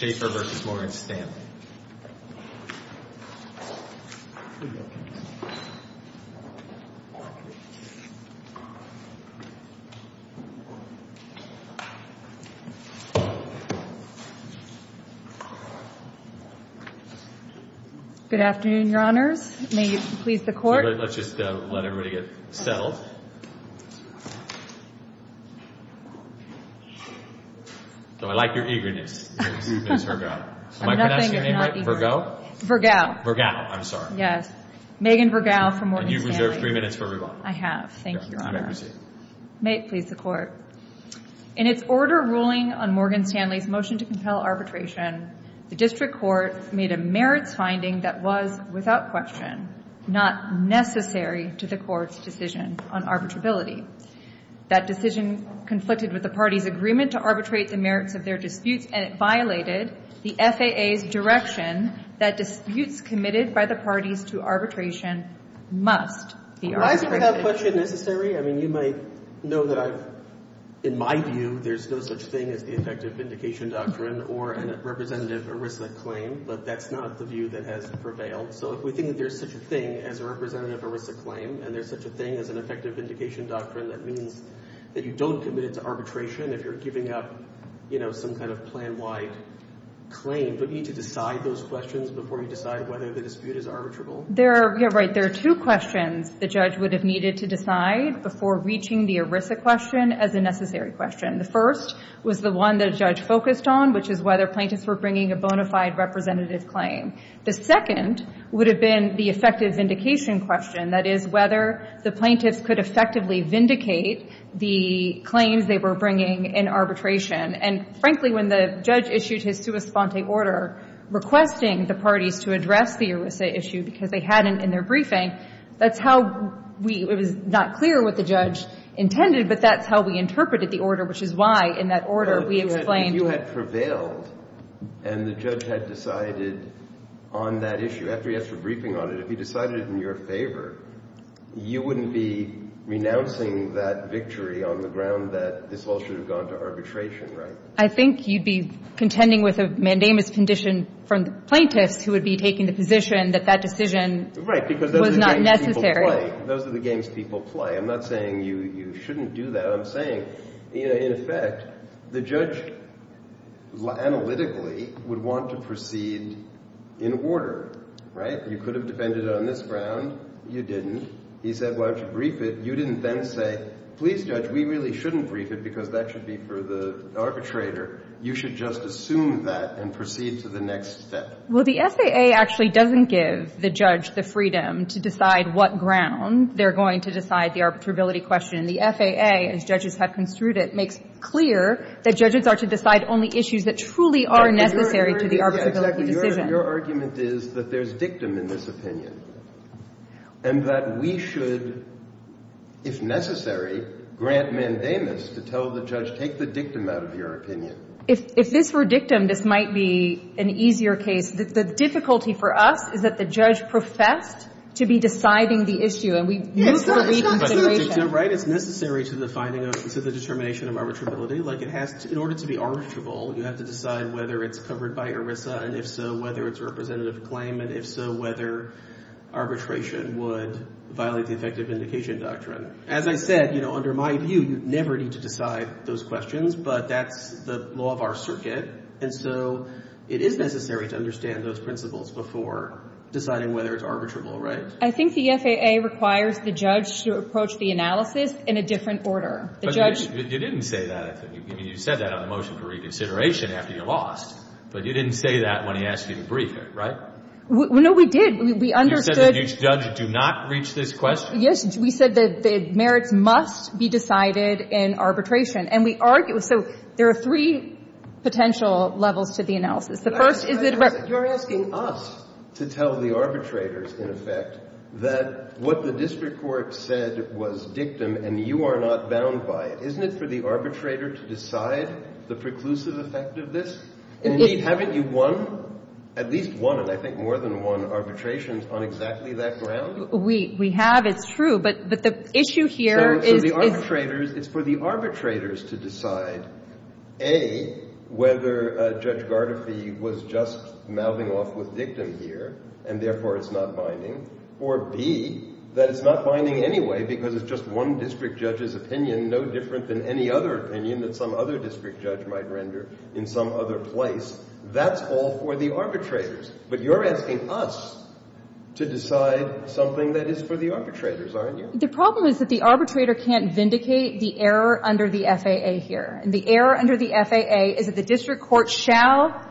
Good afternoon, Your Honors. May it please the Court. Let's just let everybody get settled. So I like your eagerness, Ms. Vergao. Am I pronouncing your name right? Vergao? Vergao. Vergao. I'm sorry. Yes. Megan Vergao from Morgan Stanley. And you've reserved three minutes for everyone. I have. Thank you, Your Honor. May it please the Court. In its order ruling on Morgan Stanley's motion to compel arbitration, the District Court made a merits finding that was, without question, not necessary to the Court's decision on arbitrability. That decision conflicted with the parties' agreement to arbitrate the merits of their disputes, and it violated the FAA's direction that disputes committed by the parties to arbitration must be arbitrated. Why is it without question necessary? I mean, you might know that I've – in my view, there's no such thing as the effective vindication doctrine or a representative ERISA claim, but that's not the view that has prevailed. So if we think there's such a thing as a representative ERISA claim and there's such a thing as an effective vindication doctrine, that means that you don't commit it to arbitration if you're giving up, you know, some kind of plan-wide claim, but you need to decide those questions before you decide whether the dispute is arbitrable. There – yeah, right. There are two questions the judge would have needed to decide before reaching the ERISA question as a necessary question. The first was the one that a judge focused on, which is whether plaintiffs were bringing a bona fide representative claim. The second would have been the effective vindication question, that is, whether the plaintiffs could effectively vindicate the claims they were bringing in arbitration. And frankly, when the judge issued his sua sponte order requesting the parties to address the ERISA issue because they hadn't in their briefing, that's how we – it was not clear what the judge intended, but that's how we interpreted the order, which is why in that order we explained – But if you had prevailed and the judge had decided on that issue, after he has a briefing on it, if he decided it in your favor, you wouldn't be renouncing that victory on the ground that this all should have gone to arbitration, right? I think you'd be contending with a mandamus condition from the plaintiffs who would be taking the position that that decision was not necessary. Right, because those are the games people play. Those are the games people play. I'm not saying you shouldn't do that, I'm saying, in effect, the judge analytically would want to proceed in order, right? You could have defended it on this ground. You didn't. He said, well, I should brief it. You didn't then say, please judge, we really shouldn't brief it because that should be for the arbitrator. You should just assume that and proceed to the next step. Well, the SAA actually doesn't give the judge the freedom to decide what ground they're going to decide the arbitrability question. The FAA, as judges have construed it, makes clear that judges are to decide only issues that truly are necessary to the arbitrability decision. Your argument is that there's dictum in this opinion, and that we should, if necessary, grant mandamus to tell the judge, take the dictum out of your opinion. If this were dictum, this might be an easier case. The difficulty for us is that the judge professed to be deciding the issue. It's necessary to the finding of, to the determination of arbitrability. Like, it has to, in order to be arbitrable, you have to decide whether it's covered by ERISA, and if so, whether it's a representative claim, and if so, whether arbitration would violate the effective indication doctrine. As I said, you know, under my view, you never need to decide those questions, but that's the law of our circuit, and so it is necessary to understand those principles before deciding whether it's arbitrable, right? I think the FAA requires the judge to approach the analysis in a different order. The judge — But you didn't say that. I mean, you said that on the motion for reconsideration after you lost, but you didn't say that when he asked you to brief it, right? No, we did. We understood — You said that each judge do not reach this question. Yes. We said that the merits must be decided in arbitration. And we argue — so there are three potential levels to the analysis. The first is that — You're asking us to tell the arbitrators, in effect, that what the district court said was dictum and you are not bound by it. Isn't it for the arbitrator to decide the preclusive effect of this? Indeed, haven't you won — at least won, and I think more than won, arbitrations on exactly that ground? We have. It's true. But the issue here is — So the arbitrators — it's for the arbitrators to decide, A, whether Judge Gardefie was just mouthing off with dictum here, and therefore it's not binding, or, B, that it's not binding anyway because it's just one district judge's opinion, no different than any other opinion that some other district judge might render in some other place. That's all for the arbitrators. But you're asking us to decide something that is for the arbitrators, aren't you? The problem is that the arbitrator can't vindicate the error under the FAA here. And the error under the FAA is that the district court shall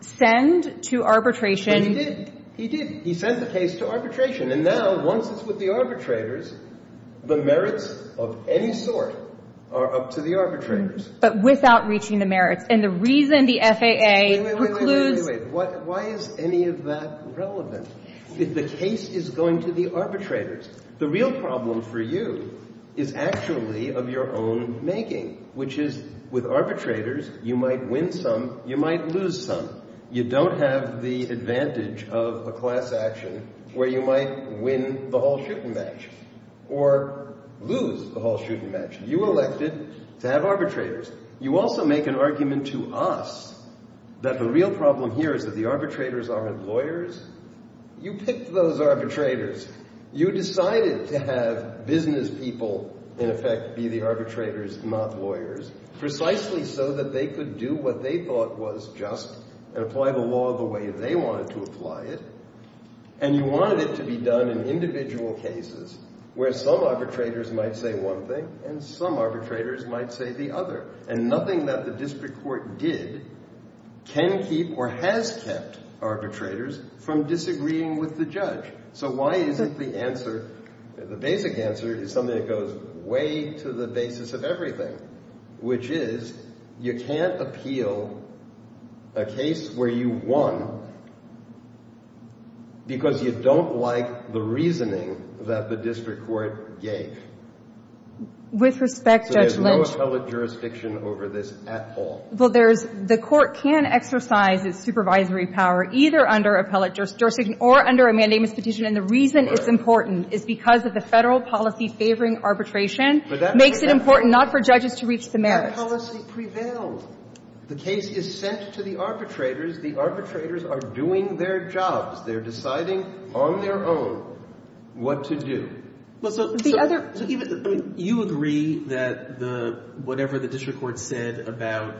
send to arbitration — But he did. He did. He sent the case to arbitration. And now, once it's with the arbitrators, the merits of any sort are up to the arbitrators. But without reaching the merits. And the reason the FAA concludes — Wait, wait, wait, wait, wait, wait. Why is any of that relevant? If the case is going to the arbitrators, the real problem for you is actually of your own making, which is, with arbitrators, you might win some, you might lose some. You don't have the advantage of a class action where you might win the whole shoot-and-match or lose the whole shoot-and-match. You elected to have arbitrators. You also make an argument to us that the real problem here is that the arbitrators aren't lawyers. You picked those arbitrators. You decided to have business people, in effect, be the arbitrators, not lawyers, precisely so that they could do what they thought was just and apply the law the way they wanted to apply it. And you wanted it to be done in individual cases where some arbitrators might say one thing and some arbitrators might say the other. And nothing that the district court did can keep or has kept arbitrators from disagreeing with the judge. So why isn't the answer, the basic answer, is something that goes way to the basis of everything, which is you can't appeal a case where you won because you don't like the reasoning that the district court gave. With respect, Judge Lynch. So there's no appellate jurisdiction over this at all. Well, there's, the court can exercise its supervisory power either under appellate jurisdiction or under a mandamus petition. And the reason it's important is because of the federal policy favoring arbitration makes it important not for judges to reach the merits. But that policy prevailed. The case is sent to the arbitrators. The arbitrators are doing their jobs. They're deciding on their own what to do. Well, so even, I mean, you agree that the, whatever the district court said about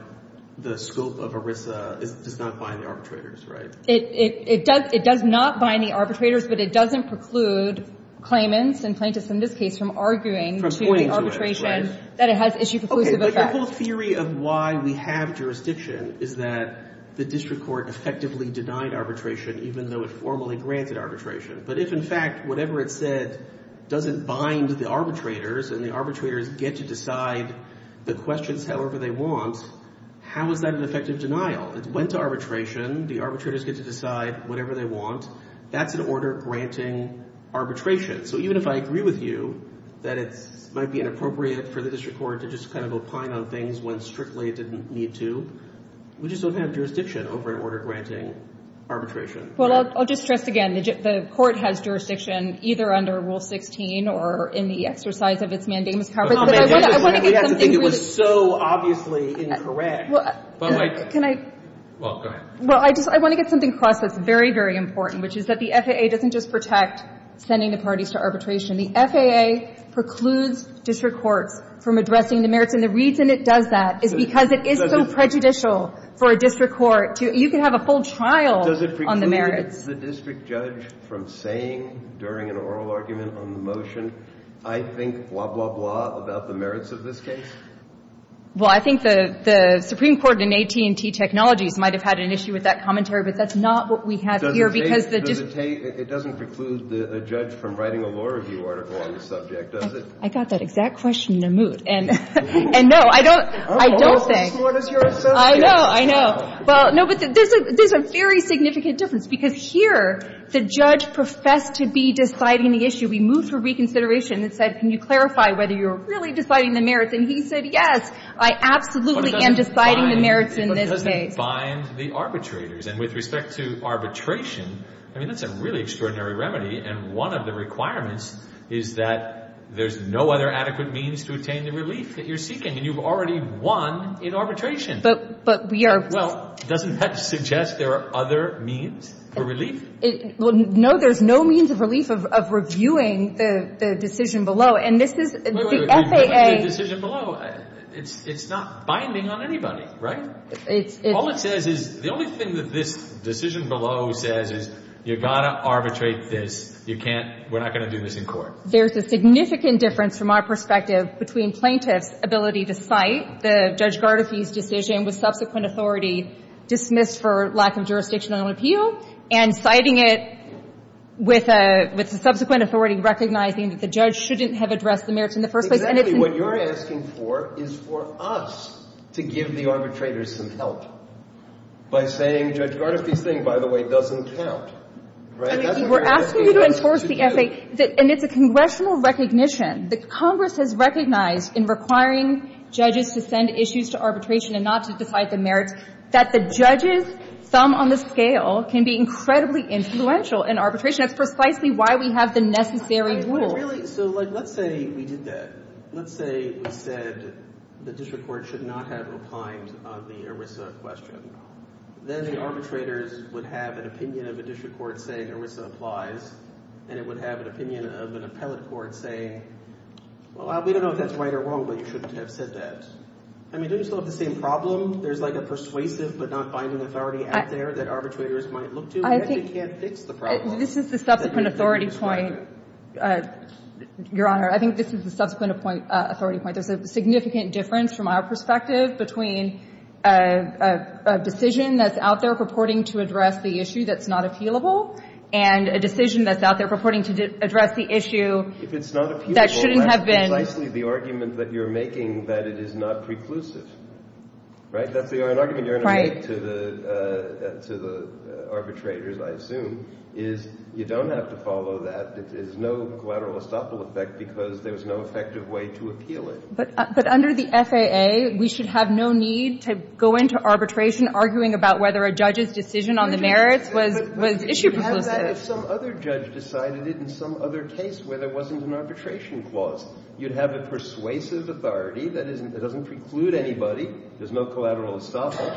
the scope of ERISA does not bind the arbitrators, right? It does not bind the arbitrators, but it doesn't preclude claimants and plaintiffs in this case from arguing to the arbitration that it has issue-preclusive effect. Okay, but your whole theory of why we have jurisdiction is that the district court effectively denied arbitration even though it formally granted arbitration. But if, in fact, whatever it said doesn't bind the arbitrators and the arbitrators get to decide the questions however they want, how is that an effective denial? It went to arbitration. The arbitrators get to decide whatever they want. That's an order granting arbitration. So even if I agree with you that it might be inappropriate for the district court to just kind of opine on things when strictly it didn't need to, we just don't have jurisdiction over an order granting arbitration. Well, I'll just stress again, the court has jurisdiction either under Rule 16 or in the exercise of its mandamus coverage. But I want to get something really— You have to think it was so obviously incorrect. Well, I just want to get something across that's very, very important, which is that the FAA doesn't just protect sending the parties to arbitration. The FAA precludes district courts from addressing the merits. And the reason it does that is because it is so prejudicial for a district court to—you can have a full trial on the merits. Does it preclude the district judge from saying during an oral argument on the motion, I think, blah, blah, blah, about the merits of this case? Well, I think the Supreme Court in AT&T Technologies might have had an issue with that commentary, but that's not what we have here because the district— It doesn't preclude a judge from writing a law review article on the subject, does it? I got that exact question in a moot. And no, I don't think— I'm also as smart as your associate. I know. I know. Well, no, but there's a very significant difference because here the judge professed to be deciding the issue. We moved for reconsideration and said, can you clarify whether you're really deciding the merits? And he said, yes, I absolutely am deciding the merits in this case. But it doesn't bind the arbitrators. And with respect to arbitration, I mean, that's a really extraordinary remedy. And one of the requirements is that there's no other adequate means to attain the relief that you're seeking. And you've already won in arbitration. But we are— Well, doesn't that suggest there are other means for relief? No, there's no means of relief of reviewing the decision below. And this is— Wait, wait, wait. The decision below, it's not binding on anybody, right? All it says is—the only thing that this decision below says is, you've got to arbitrate this. You can't—we're not going to do this in court. There's a significant difference from our perspective between plaintiffs' ability to cite the Judge Gardafi's decision with subsequent authority dismissed for lack of jurisdictional appeal and citing it with the subsequent authority recognizing that the judge shouldn't have addressed the merits in the first place. Exactly what you're asking for is for us to give the arbitrators some help by saying, Judge Gardafi's thing, by the way, doesn't count, right? That's a very— We're asking you to enforce the F.A. And it's a congressional recognition that Congress has recognized in requiring judges to send issues to arbitration and not to decide the merits that the judges' thumb on the scale can be incredibly influential in arbitration. That's precisely why we have the necessary rule. Really, so, like, let's say we did that. Let's say we said the district court should not have replied on the ERISA question. Then the arbitrators would have an opinion of a district court saying ERISA applies, and it would have an opinion of an appellate court saying, well, we don't know if that's right or wrong, but you shouldn't have said that. I mean, don't you still have the same problem? There's, like, a persuasive but not binding authority out there that arbitrators might look to, and yet they can't fix the problem. This is the subsequent authority point, Your Honor. I think this is the subsequent authority point. There's a significant difference from our perspective between a decision that's out there purporting to address the issue that's not appealable and a decision that's out there purporting to address the issue that shouldn't have been. If it's not appealable, that's precisely the argument that you're making, that it is not preclusive, right? That's the argument you're going to make to the arbitrators, I assume, is you don't have to follow that. There's no collateral estoppel effect because there's no effective way to appeal it. But under the FAA, we should have no need to go into arbitration arguing about whether a judge's decision on the merits was issue-proclusive. But you have that if some other judge decided it in some other case where there wasn't an arbitration clause. You'd have a persuasive authority that doesn't preclude anybody. There's no collateral estoppel.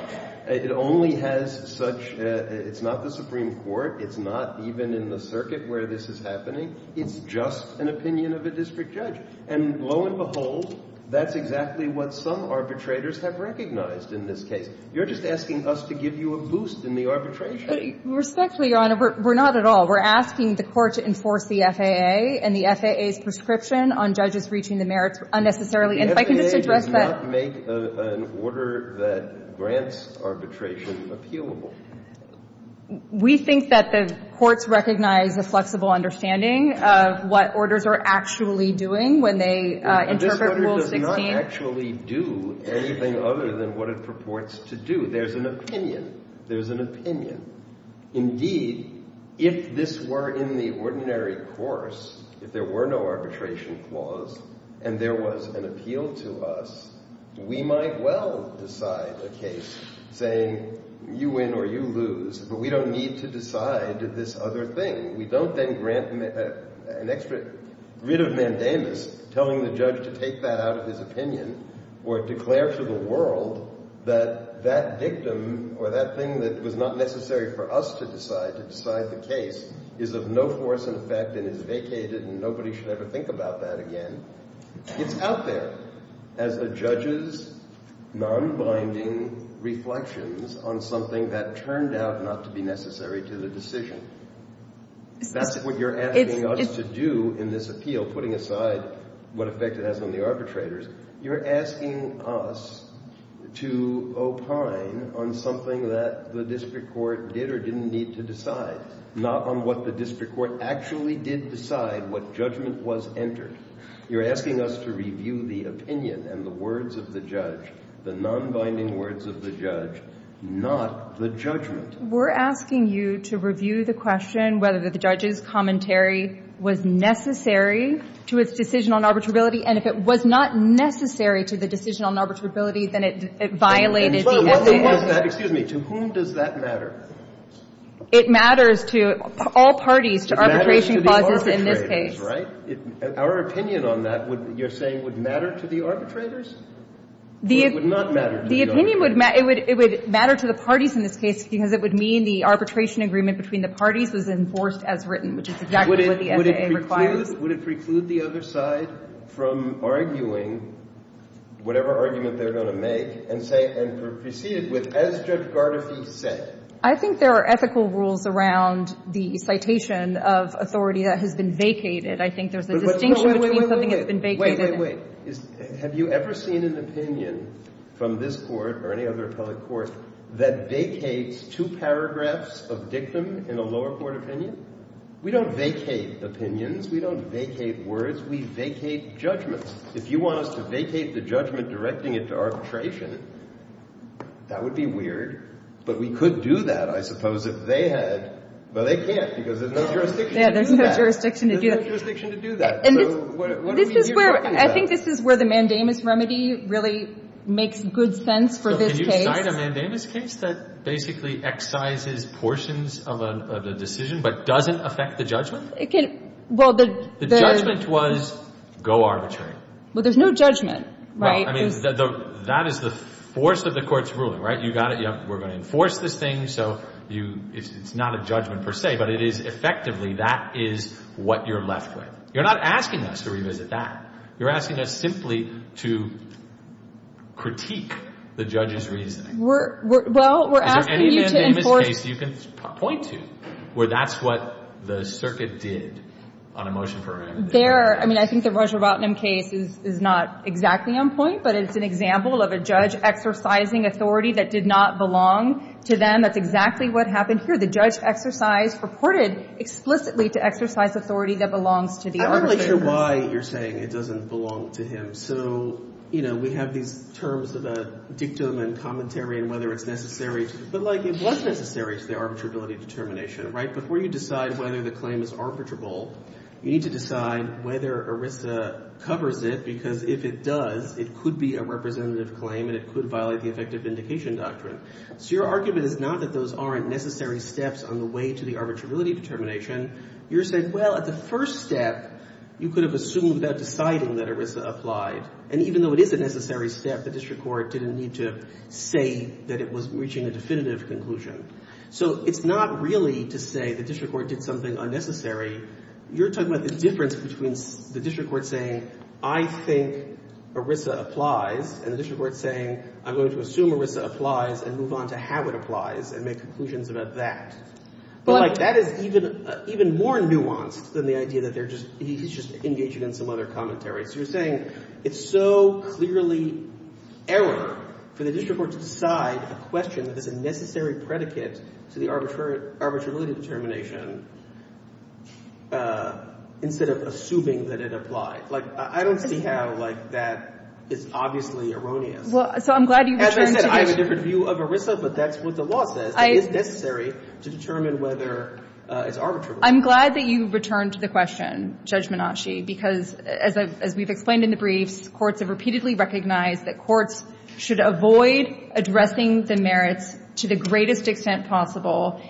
It only has such – it's not the Supreme Court. It's not even in the circuit where this is happening. It's just an opinion of a district judge. And lo and behold, that's exactly what some arbitrators have recognized in this case. You're just asking us to give you a boost in the arbitration. Respectfully, Your Honor, we're not at all. We're asking the Court to enforce the FAA and the FAA's prescription on judges reaching the merits unnecessarily. And if I can just address that – If the FAA does not make an order that grants arbitration appealable. We think that the courts recognize a flexible understanding of what orders are actually doing when they interpret Rule 16. But this order does not actually do anything other than what it purports to do. There's an opinion. There's an opinion. Indeed, if this were in the ordinary course, if there were no arbitration clause and there was an appeal to us, we might well decide a case saying, you win or you lose. But we don't need to decide this other thing. We don't then grant an extra writ of mandamus telling the judge to take that out of his opinion or declare to the world that that victim or that thing that was not necessary for us to decide, to decide the case, is of no force and effect and is vacated and nobody should ever think about that again. It's out there as the judge's non-binding reflections on something that turned out not to be necessary to the decision. That's what you're asking us to do in this appeal, putting aside what effect it has on the arbitrators. You're asking us to opine on something that the district court did or didn't need to decide, not on what the district court actually did decide, what judgment was entered. You're asking us to review the opinion and the words of the judge, the non-binding words of the judge, not the judgment. We're asking you to review the question whether the judge's commentary was necessary to its decision on arbitrability, and if it was not necessary to the decision on arbitrability, then it violated the essay. Excuse me. To whom does that matter? It matters to all parties to arbitration clauses in this case. It matters to the arbitrators, right? Our opinion on that, you're saying, would matter to the arbitrators? It would not matter to the arbitrators. The opinion would matter to the parties in this case because it would mean the arbitration agreement between the parties was enforced as written, which is exactly what the essay requires. Would it preclude the other side from arguing whatever argument they're going to make and say, and proceed with, as Judge Gardefee said? I think there are ethical rules around the citation of authority that has been vacated. I think there's a distinction between something that's been vacated and— Wait, wait, wait. Have you ever seen an opinion from this Court or any other appellate court that vacates two paragraphs of dictum in a lower court opinion? We don't vacate opinions. We don't vacate words. We vacate judgments. If you want us to vacate the judgment directing it to arbitration, that would be weird, but we could do that, I suppose, if they had— Well, they can't because there's no jurisdiction to do that. Yeah, there's no jurisdiction to do that. There's no jurisdiction to do that. And this is where— I think this is where the mandamus remedy really makes good sense for this case. So can you cite a mandamus case that basically excises portions of a decision but doesn't affect the judgment? It can— Well, the— The judgment was, go arbitrate. Well, there's no judgment, right? I mean, that is the force of the Court's ruling, right? We're going to enforce this thing, so it's not a judgment per se, but it is effectively that is what you're left with. You're not asking us to revisit that. You're asking us simply to critique the judge's reasoning. We're— Well, we're asking you to enforce— Is there any mandamus case you can point to where that's what the circuit did on a motion for remedy? There— I mean, I think the Roger Botnam case is not exactly on point, but it's an of a judge exercising authority that did not belong to them. That's exactly what happened here. The judge exercised— reported explicitly to exercise authority that belongs to the I'm not really sure why you're saying it doesn't belong to him. So, you know, we have these terms of a dictum and commentary on whether it's necessary, but like it was necessary to the arbitrability determination, right? Before you decide whether the claim is arbitrable, you need to decide whether ERISA covers it because if it does, it could be a representative claim and it could violate the effective vindication doctrine. So your argument is not that those aren't necessary steps on the way to the arbitrability determination. You're saying, well, at the first step, you could have assumed that deciding that ERISA applied. And even though it is a necessary step, the district court didn't need to say that it was reaching a definitive conclusion. So it's not really to say the district court did something unnecessary. You're talking about the difference between the district court saying I think ERISA applies and the district court saying I'm going to assume ERISA applies and move on to how it applies and make conclusions about that. But like that is even more nuanced than the idea that he's just engaging in some other commentary. So you're saying it's so clearly error for the district court to decide a question that is a necessary predicate to the arbitrability determination instead of assuming that it applied. Like, I don't see how like that is obviously erroneous. Well, so I'm glad you returned to that. As I said, I have a different view of ERISA, but that's what the law says. It is necessary to determine whether it's arbitrable. I'm glad that you returned to the question, Judge Menasche, because as we've explained in the briefs, courts have repeatedly recognized that courts should avoid addressing the merits to the greatest extent possible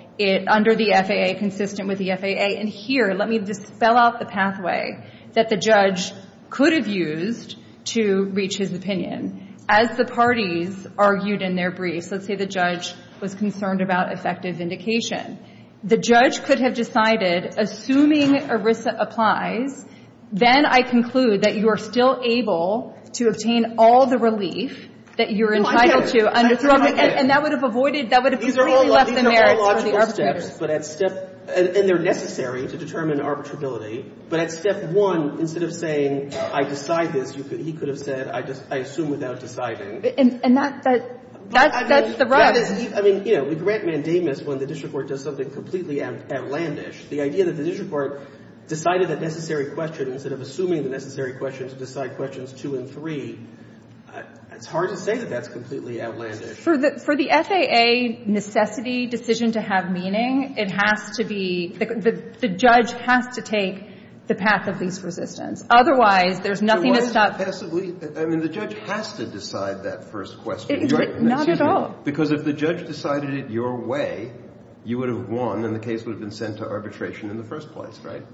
under the FAA, consistent with the FAA. And here, let me just spell out the pathway that the judge could have used to reach his opinion. As the parties argued in their briefs, let's say the judge was concerned about effective vindication. The judge could have decided, assuming ERISA applies, then I conclude that you are still able to obtain all the relief that you're entitled to under FAA. And that would have avoided, that would have completely left the merits for the arbitrators. These are all logical steps, and they're necessary to determine arbitrability. But at step one, instead of saying, I decide this, he could have said, I assume without deciding. And that's the rub. I mean, you know, we grant mandamus when the district court does something completely outlandish. The idea that the district court decided a necessary question instead of assuming the necessary question to decide questions two and three, it's hard to say that that's completely outlandish. For the FAA necessity decision to have meaning, it has to be, the judge has to take the path of least resistance. Otherwise, there's nothing to stop. So why is it passively? I mean, the judge has to decide that first question. Not at all. Because if the judge decided it your way, you would have won, and the case would have been sent to arbitration in the first place, right?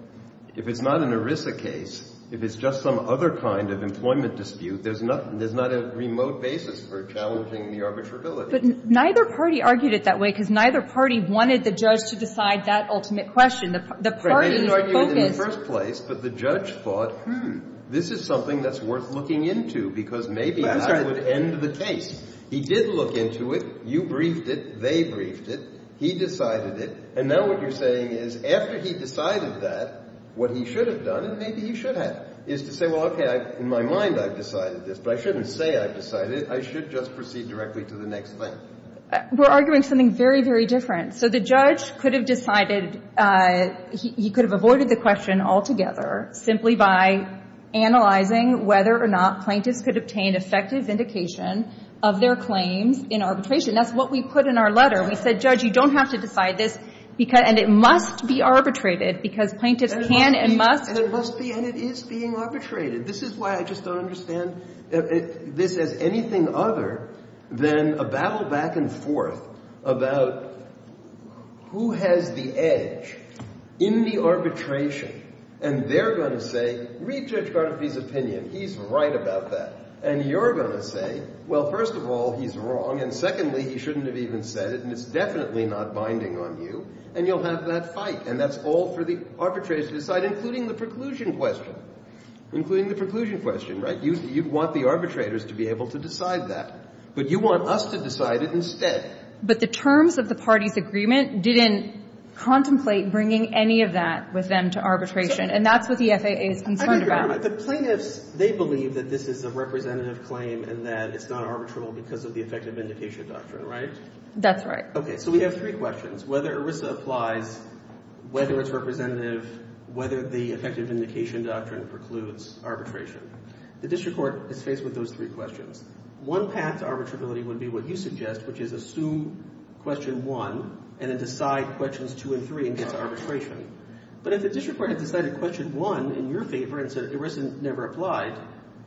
If it's not an ERISA case, if it's just some other kind of employment dispute, there's not a remote basis for challenging the arbitrability. But neither party argued it that way, because neither party wanted the judge to decide that ultimate question. The party's focus was the judge. They didn't argue it in the first place, but the judge thought, hmm, this is something that's worth looking into, because maybe that would end the case. He did look into it. You briefed it. They briefed it. He decided it. And now what you're saying is, after he decided that, what he should have done, and maybe he should have, is to say, well, OK, in my mind, I've decided this. But I shouldn't say I've decided it. I should just proceed directly to the next thing. We're arguing something very, very different. So the judge could have decided he could have avoided the question altogether simply by analyzing whether or not plaintiffs could obtain effective indication of their claims in arbitration. That's what we put in our letter. We said, judge, you don't have to decide this. And it must be arbitrated, because plaintiffs can and must. And it must be, and it is being arbitrated. This is why I just don't understand this as anything other than a battle back and forth about who has the edge in the arbitration. And they're going to say, read Judge Garnafi's opinion. He's right about that. And you're going to say, well, first of all, he's wrong. And secondly, he shouldn't have even said it. And it's definitely not binding on you. And you'll have that fight. And that's all for the arbitrators to decide, including the preclusion question. Including the preclusion question, right? You'd want the arbitrators to be able to decide that. But you want us to decide it instead. But the terms of the party's agreement didn't contemplate bringing any of that with them to arbitration. And that's what the FAA is concerned about. The plaintiffs, they believe that this is a representative claim and that it's not arbitrable because of the effective indication doctrine, right? That's right. So we have three questions. Whether ERISA applies, whether it's representative, whether the effective indication doctrine precludes arbitration. The district court is faced with those three questions. One path to arbitrability would be what you suggest, which is assume question one and then decide questions two and three and get to arbitration. But if the district court had decided question one in your favor and said ERISA never applied,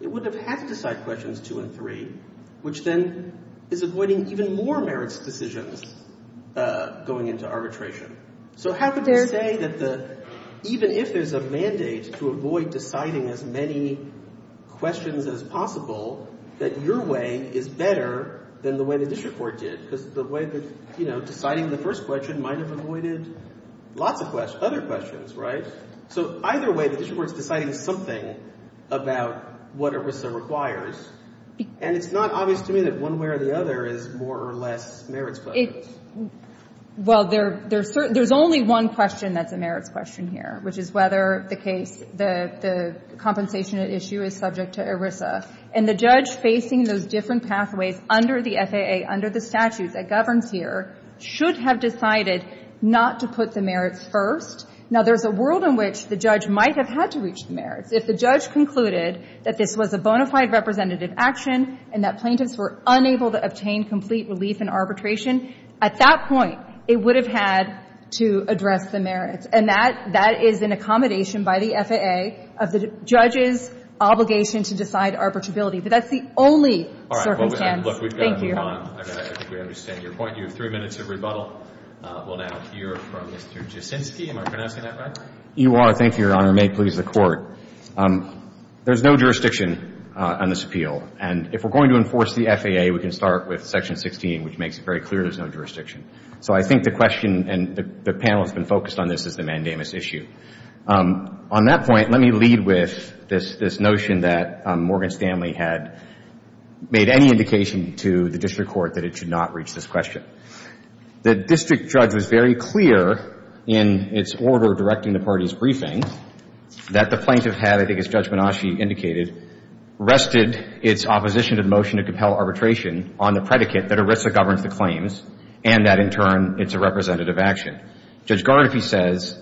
it would have had to decide questions two and three, which then is avoiding even more merits decisions going into arbitration. So how could you say that the, even if there's a mandate to avoid deciding as many questions as possible, that your way is better than the way the district court did? Because the way that, you know, deciding the first question might have avoided lots of questions, other questions, right? So either way, the district court's deciding something about what ERISA requires. And it's not obvious to me that one way or the other is more or less merits questions. Well, there's only one question that's a merits question here, which is whether the case, the compensation at issue is subject to ERISA. And the judge facing those different pathways under the FAA, under the statute that governs here, should have decided not to put the merits first. Now, there's a world in which the judge might have had to reach the merits. If the judge concluded that this was a bona fide representative action and that plaintiffs were unable to obtain complete relief in arbitration, at that point, it would have had to address the merits. And that, that is an accommodation by the FAA of the judge's obligation to decide arbitrability. But that's the only circumstance. Thank you. All right. Well, look, we've got to move on. I think we understand your point. You have three minutes of rebuttal. We'll now hear from Mr. Jaczynski. Am I pronouncing that right? You are. Thank you, Your Honor. May it please the Court. There's no jurisdiction on this appeal. And if we're going to enforce the FAA, we can start with Section 16, which makes it very clear there's no jurisdiction. So I think the question, and the panel has been focused on this, is the mandamus issue. On that point, let me lead with this notion that Morgan Stanley had made any indication to the district court that it should not reach this question. The district judge was very clear in its order directing the party's briefing that the plaintiff had, I think as Judge Menasche indicated, rested its opposition to the motion to compel arbitration on the predicate that ERISA governs the claims and that, in turn, it's a representative action. Judge Gardner, if he says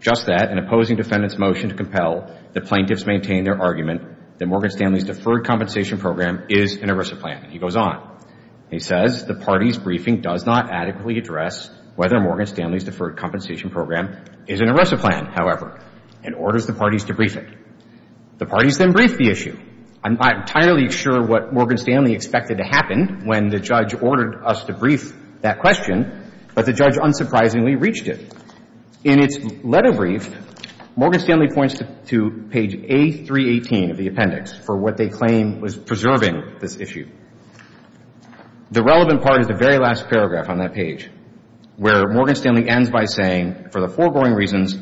just that, in opposing defendant's motion to compel, the plaintiffs maintain their argument that Morgan Stanley's deferred compensation program is an ERISA plan. He goes on. He says the party's briefing does not adequately address whether Morgan Stanley's deferred compensation program is an ERISA plan, however. It orders the parties to brief it. The parties then brief the issue. I'm not entirely sure what Morgan Stanley expected to happen when the judge ordered us to brief that question, but the judge unsurprisingly reached it. In its letter brief, Morgan Stanley points to page A318 of the appendix for what they claim was preserving this issue. The relevant part is the very last paragraph on that page, where Morgan Stanley ends by saying, for the foregoing reasons,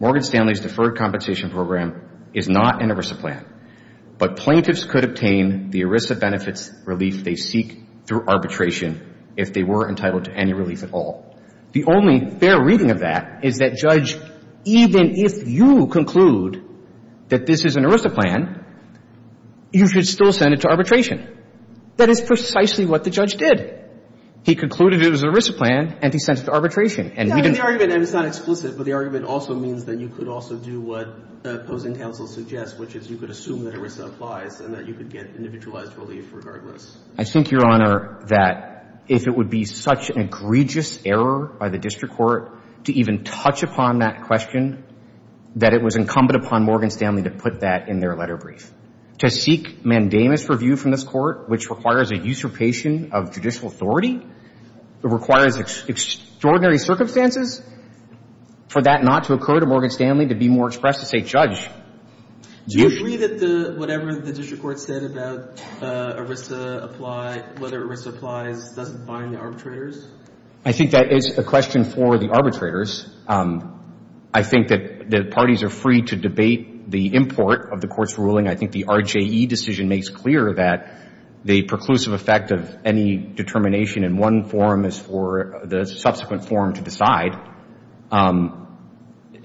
Morgan Stanley's deferred compensation program is not an ERISA plan, but plaintiffs could obtain the ERISA benefits relief they seek through arbitration if they were entitled to any relief at all. The only fair reading of that is that judge, even if you conclude that this is an ERISA plan, you should still send it to arbitration. That is precisely what the judge did. He concluded it was an ERISA plan, and he sent it to arbitration, and we didn't The argument, and it's not explicit, but the argument also means that you could also do what the opposing counsel suggests, which is you could assume that ERISA applies and that you could get individualized relief regardless. I think, Your Honor, that if it would be such an egregious error by the district court to even touch upon that question, that it was incumbent upon Morgan Stanley to put that in their letter brief. To seek mandamus review from this court, which requires a usurpation of judicial authority, requires extraordinary circumstances for that not to occur to Morgan Stanley, to be more expressed as a judge. Do you agree that whatever the district court said about whether ERISA applies doesn't bind the arbitrators? I think that is a question for the arbitrators. I think that the parties are free to debate the import of the Court's ruling. I think the RJE decision makes clear that the preclusive effect of any determination in one forum is for the subsequent forum to decide.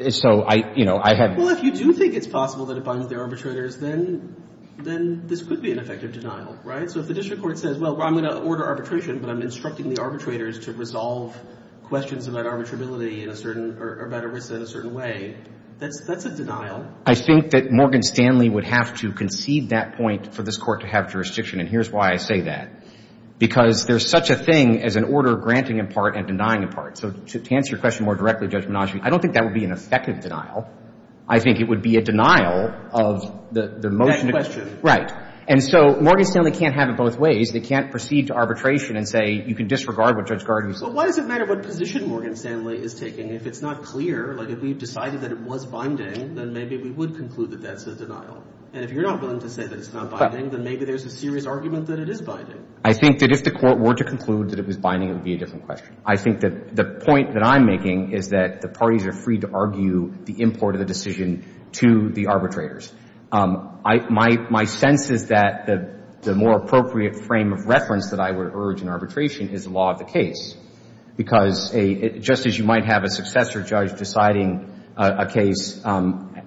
So, you know, I have Well, if you do think it's possible that it binds the arbitrators, then this could be an effective denial, right? So if the district court says, well, I'm going to order arbitration, but I'm instructing the arbitrators to resolve questions about arbitrability in a certain, or about ERISA in a certain way, that's a denial. I think that Morgan Stanley would have to concede that point for this Court to have jurisdiction. And here's why I say that. Because there's such a thing as an order granting in part and denying in part. So to answer your question more directly, Judge Menage, I don't think that would be an effective denial. I think it would be a denial of the motion to That question. Right. And so Morgan Stanley can't have it both ways. They can't proceed to arbitration and say, you can disregard what Judge Gardner said. Why does it matter what position Morgan Stanley is taking? If it's not clear, like if we've decided that it was binding, then maybe we would conclude that that's a denial. And if you're not willing to say that it's not binding, then maybe there's a serious argument that it is binding. I think that if the Court were to conclude that it was binding, it would be a different question. I think that the point that I'm making is that the parties are free to argue the import of the decision to the arbitrators. My sense is that the more appropriate frame of reference that I would urge in arbitration is the law of the case. Because just as you might have a successor judge deciding a case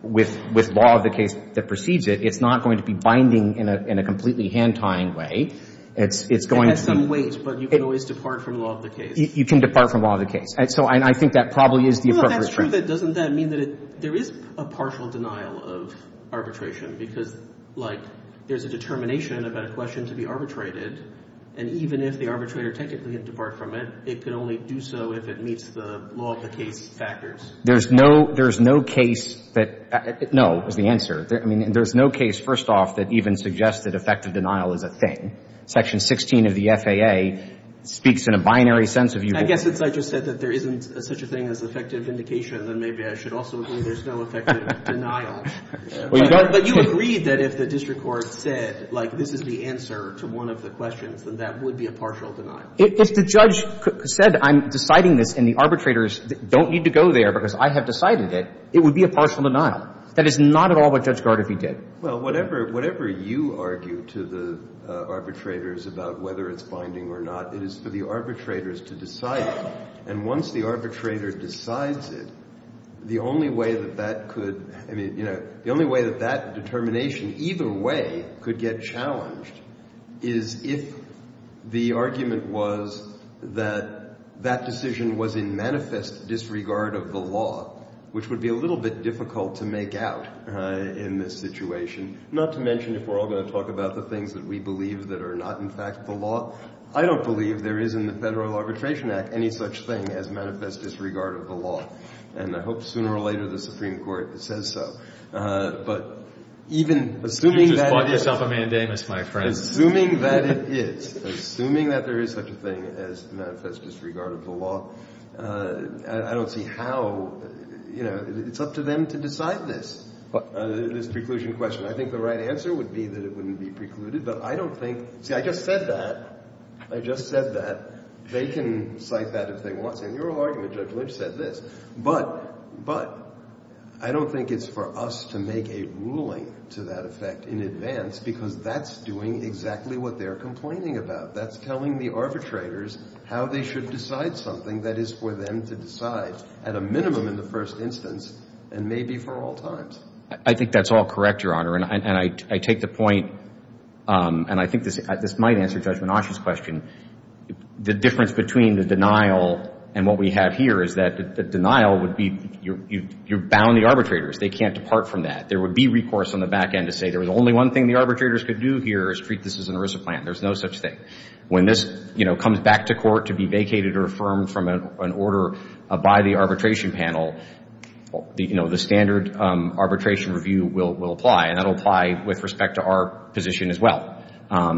with law of the case that precedes it, it's not going to be binding in a completely hand-tying way. It has some weight, but you can always depart from law of the case. You can depart from law of the case. So I think that probably is the appropriate frame. Well, that's true, but doesn't that mean that there is a partial denial of arbitration? Because, like, there's a determination about a question to be arbitrated, and even if the district could basically depart from it, it could only do so if it meets the law of the case factors. There's no case that — no, is the answer. I mean, there's no case, first off, that even suggests that effective denial is a thing. Section 16 of the FAA speaks in a binary sense of — I guess since I just said that there isn't such a thing as effective vindication, then maybe I should also agree there's no effective denial. Well, you don't — But you agreed that if the district court said, like, this is the answer to one of the questions, then that would be a partial denial. If the judge said, I'm deciding this, and the arbitrators don't need to go there because I have decided it, it would be a partial denial. That is not at all what Judge Gardoffy did. Well, whatever — whatever you argue to the arbitrators about whether it's binding or not, it is for the arbitrators to decide it. And once the arbitrator decides it, the only way that that could — I mean, you know, the only way that that determination either way could get challenged is if the argument was that that decision was in manifest disregard of the law, which would be a little bit difficult to make out in this situation, not to mention if we're all going to talk about the things that we believe that are not, in fact, the law. I don't believe there is in the Federal Arbitration Act any such thing as manifest disregard of the law. And I hope sooner or later the Supreme Court says so. But even — You just bought yourself a mandamus, my friend. Assuming that it is, assuming that there is such a thing as manifest disregard of the law, I don't see how — you know, it's up to them to decide this, this preclusion question. I think the right answer would be that it wouldn't be precluded. But I don't think — see, I just said that. I just said that. They can cite that if they want to. In your argument, Judge Lynch said this. But I don't think it's for us to make a ruling to that effect in advance because that's doing exactly what they're complaining about. That's telling the arbitrators how they should decide something that is for them to decide, at a minimum in the first instance, and maybe for all times. I think that's all correct, Your Honor. And I take the point — and I think this might answer Judge Menasche's question. The difference between the denial and what we have here is that the denial would be you're bound the arbitrators. They can't depart from that. There would be recourse on the back end to say there was only one thing the arbitrators could do here is treat this as an ERISA plan. There's no such thing. When this, you know, comes back to court to be vacated or affirmed from an order by the arbitration panel, you know, the standard arbitration review will apply. And that will apply with respect to our position as well.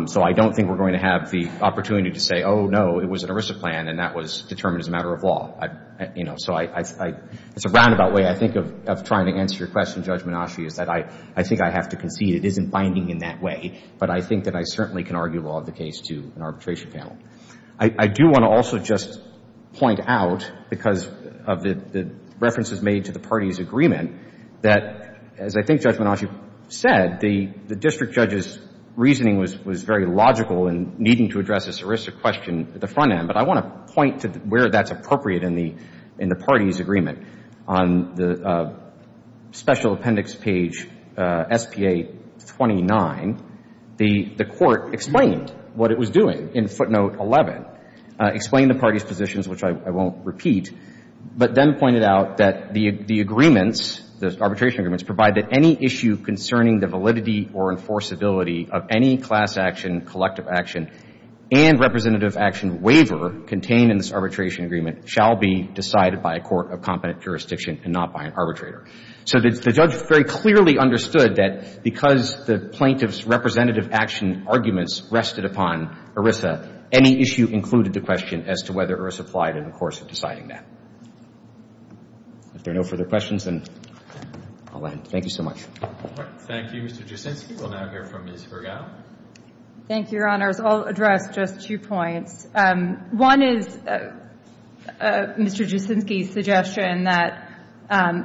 So I don't think we're going to have the opportunity to say, oh, no, it was an ERISA plan and that was determined as a matter of law. You know, so I — it's a roundabout way, I think, of trying to answer your question, Judge Menasche, is that I think I have to concede it isn't binding in that way. I think that I certainly can argue law of the case to an arbitration panel. I do want to also just point out, because of the references made to the parties' agreement, that, as I think Judge Menasche said, the district judge's reasoning was very logical in needing to address this ERISA question at the front end. But I want to point to where that's appropriate in the parties' agreement. On the special appendix page SPA-29, the court explained what it was doing in footnote 11, explained the parties' positions, which I won't repeat, but then pointed out that the agreements, the arbitration agreements, provide that any issue concerning the validity or enforceability of any class action, collective action, and representative action waiver contained in this arbitration agreement shall be decided by a court of competent jurisdiction and not by an arbitrator. So the judge very clearly understood that because the plaintiff's representative action arguments rested upon ERISA, any issue included the question as to whether ERISA applied in the course of deciding that. If there are no further questions, then I'll end. Thank you so much. All right. Thank you, Mr. Jaczynski. We'll now hear from Ms. Vergao. Thank you, Your Honors. I'll address just two points. One is Mr. Jaczynski's suggestion that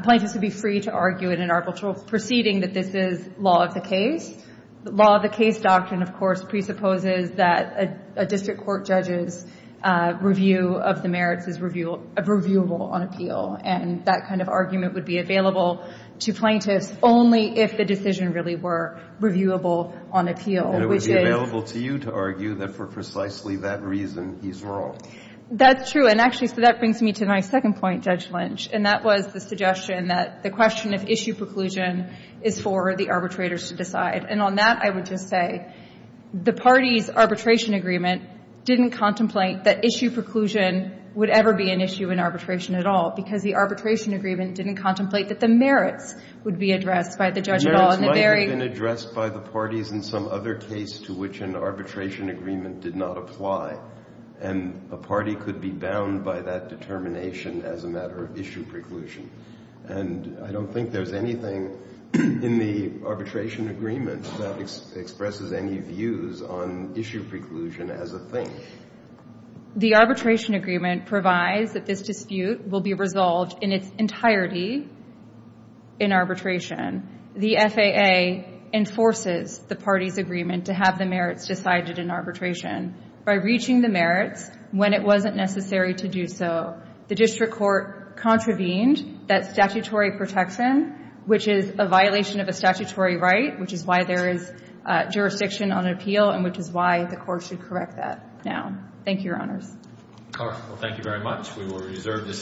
plaintiffs would be free to argue in an arbitral proceeding that this is law of the case. Law of the case doctrine, of course, presupposes that a district court judge's review of the merits is reviewable on appeal. And that kind of argument would be available to plaintiffs only if the decision really were reviewable on appeal, which is — he's wrong. That's true. And actually, so that brings me to my second point, Judge Lynch. And that was the suggestion that the question of issue preclusion is for the arbitrators to decide. And on that, I would just say the parties' arbitration agreement didn't contemplate that issue preclusion would ever be an issue in arbitration at all because the arbitration agreement didn't contemplate that the merits would be addressed by the judge at all. Merits might have been addressed by the parties in some other case to which an arbitration agreement did not apply. And a party could be bound by that determination as a matter of issue preclusion. And I don't think there's anything in the arbitration agreement that expresses any views on issue preclusion as a thing. The arbitration agreement provides that this dispute will be resolved in its entirety in arbitration. The FAA enforces the parties' agreement to have the merits decided in arbitration by reaching the merits when it wasn't necessary to do so. The district court contravened that statutory protection, which is a violation of a statutory right, which is why there is jurisdiction on appeal and which is why the court should correct that now. Thank you, Your Honors. All right. Well, thank you very much. We will reserve the decision.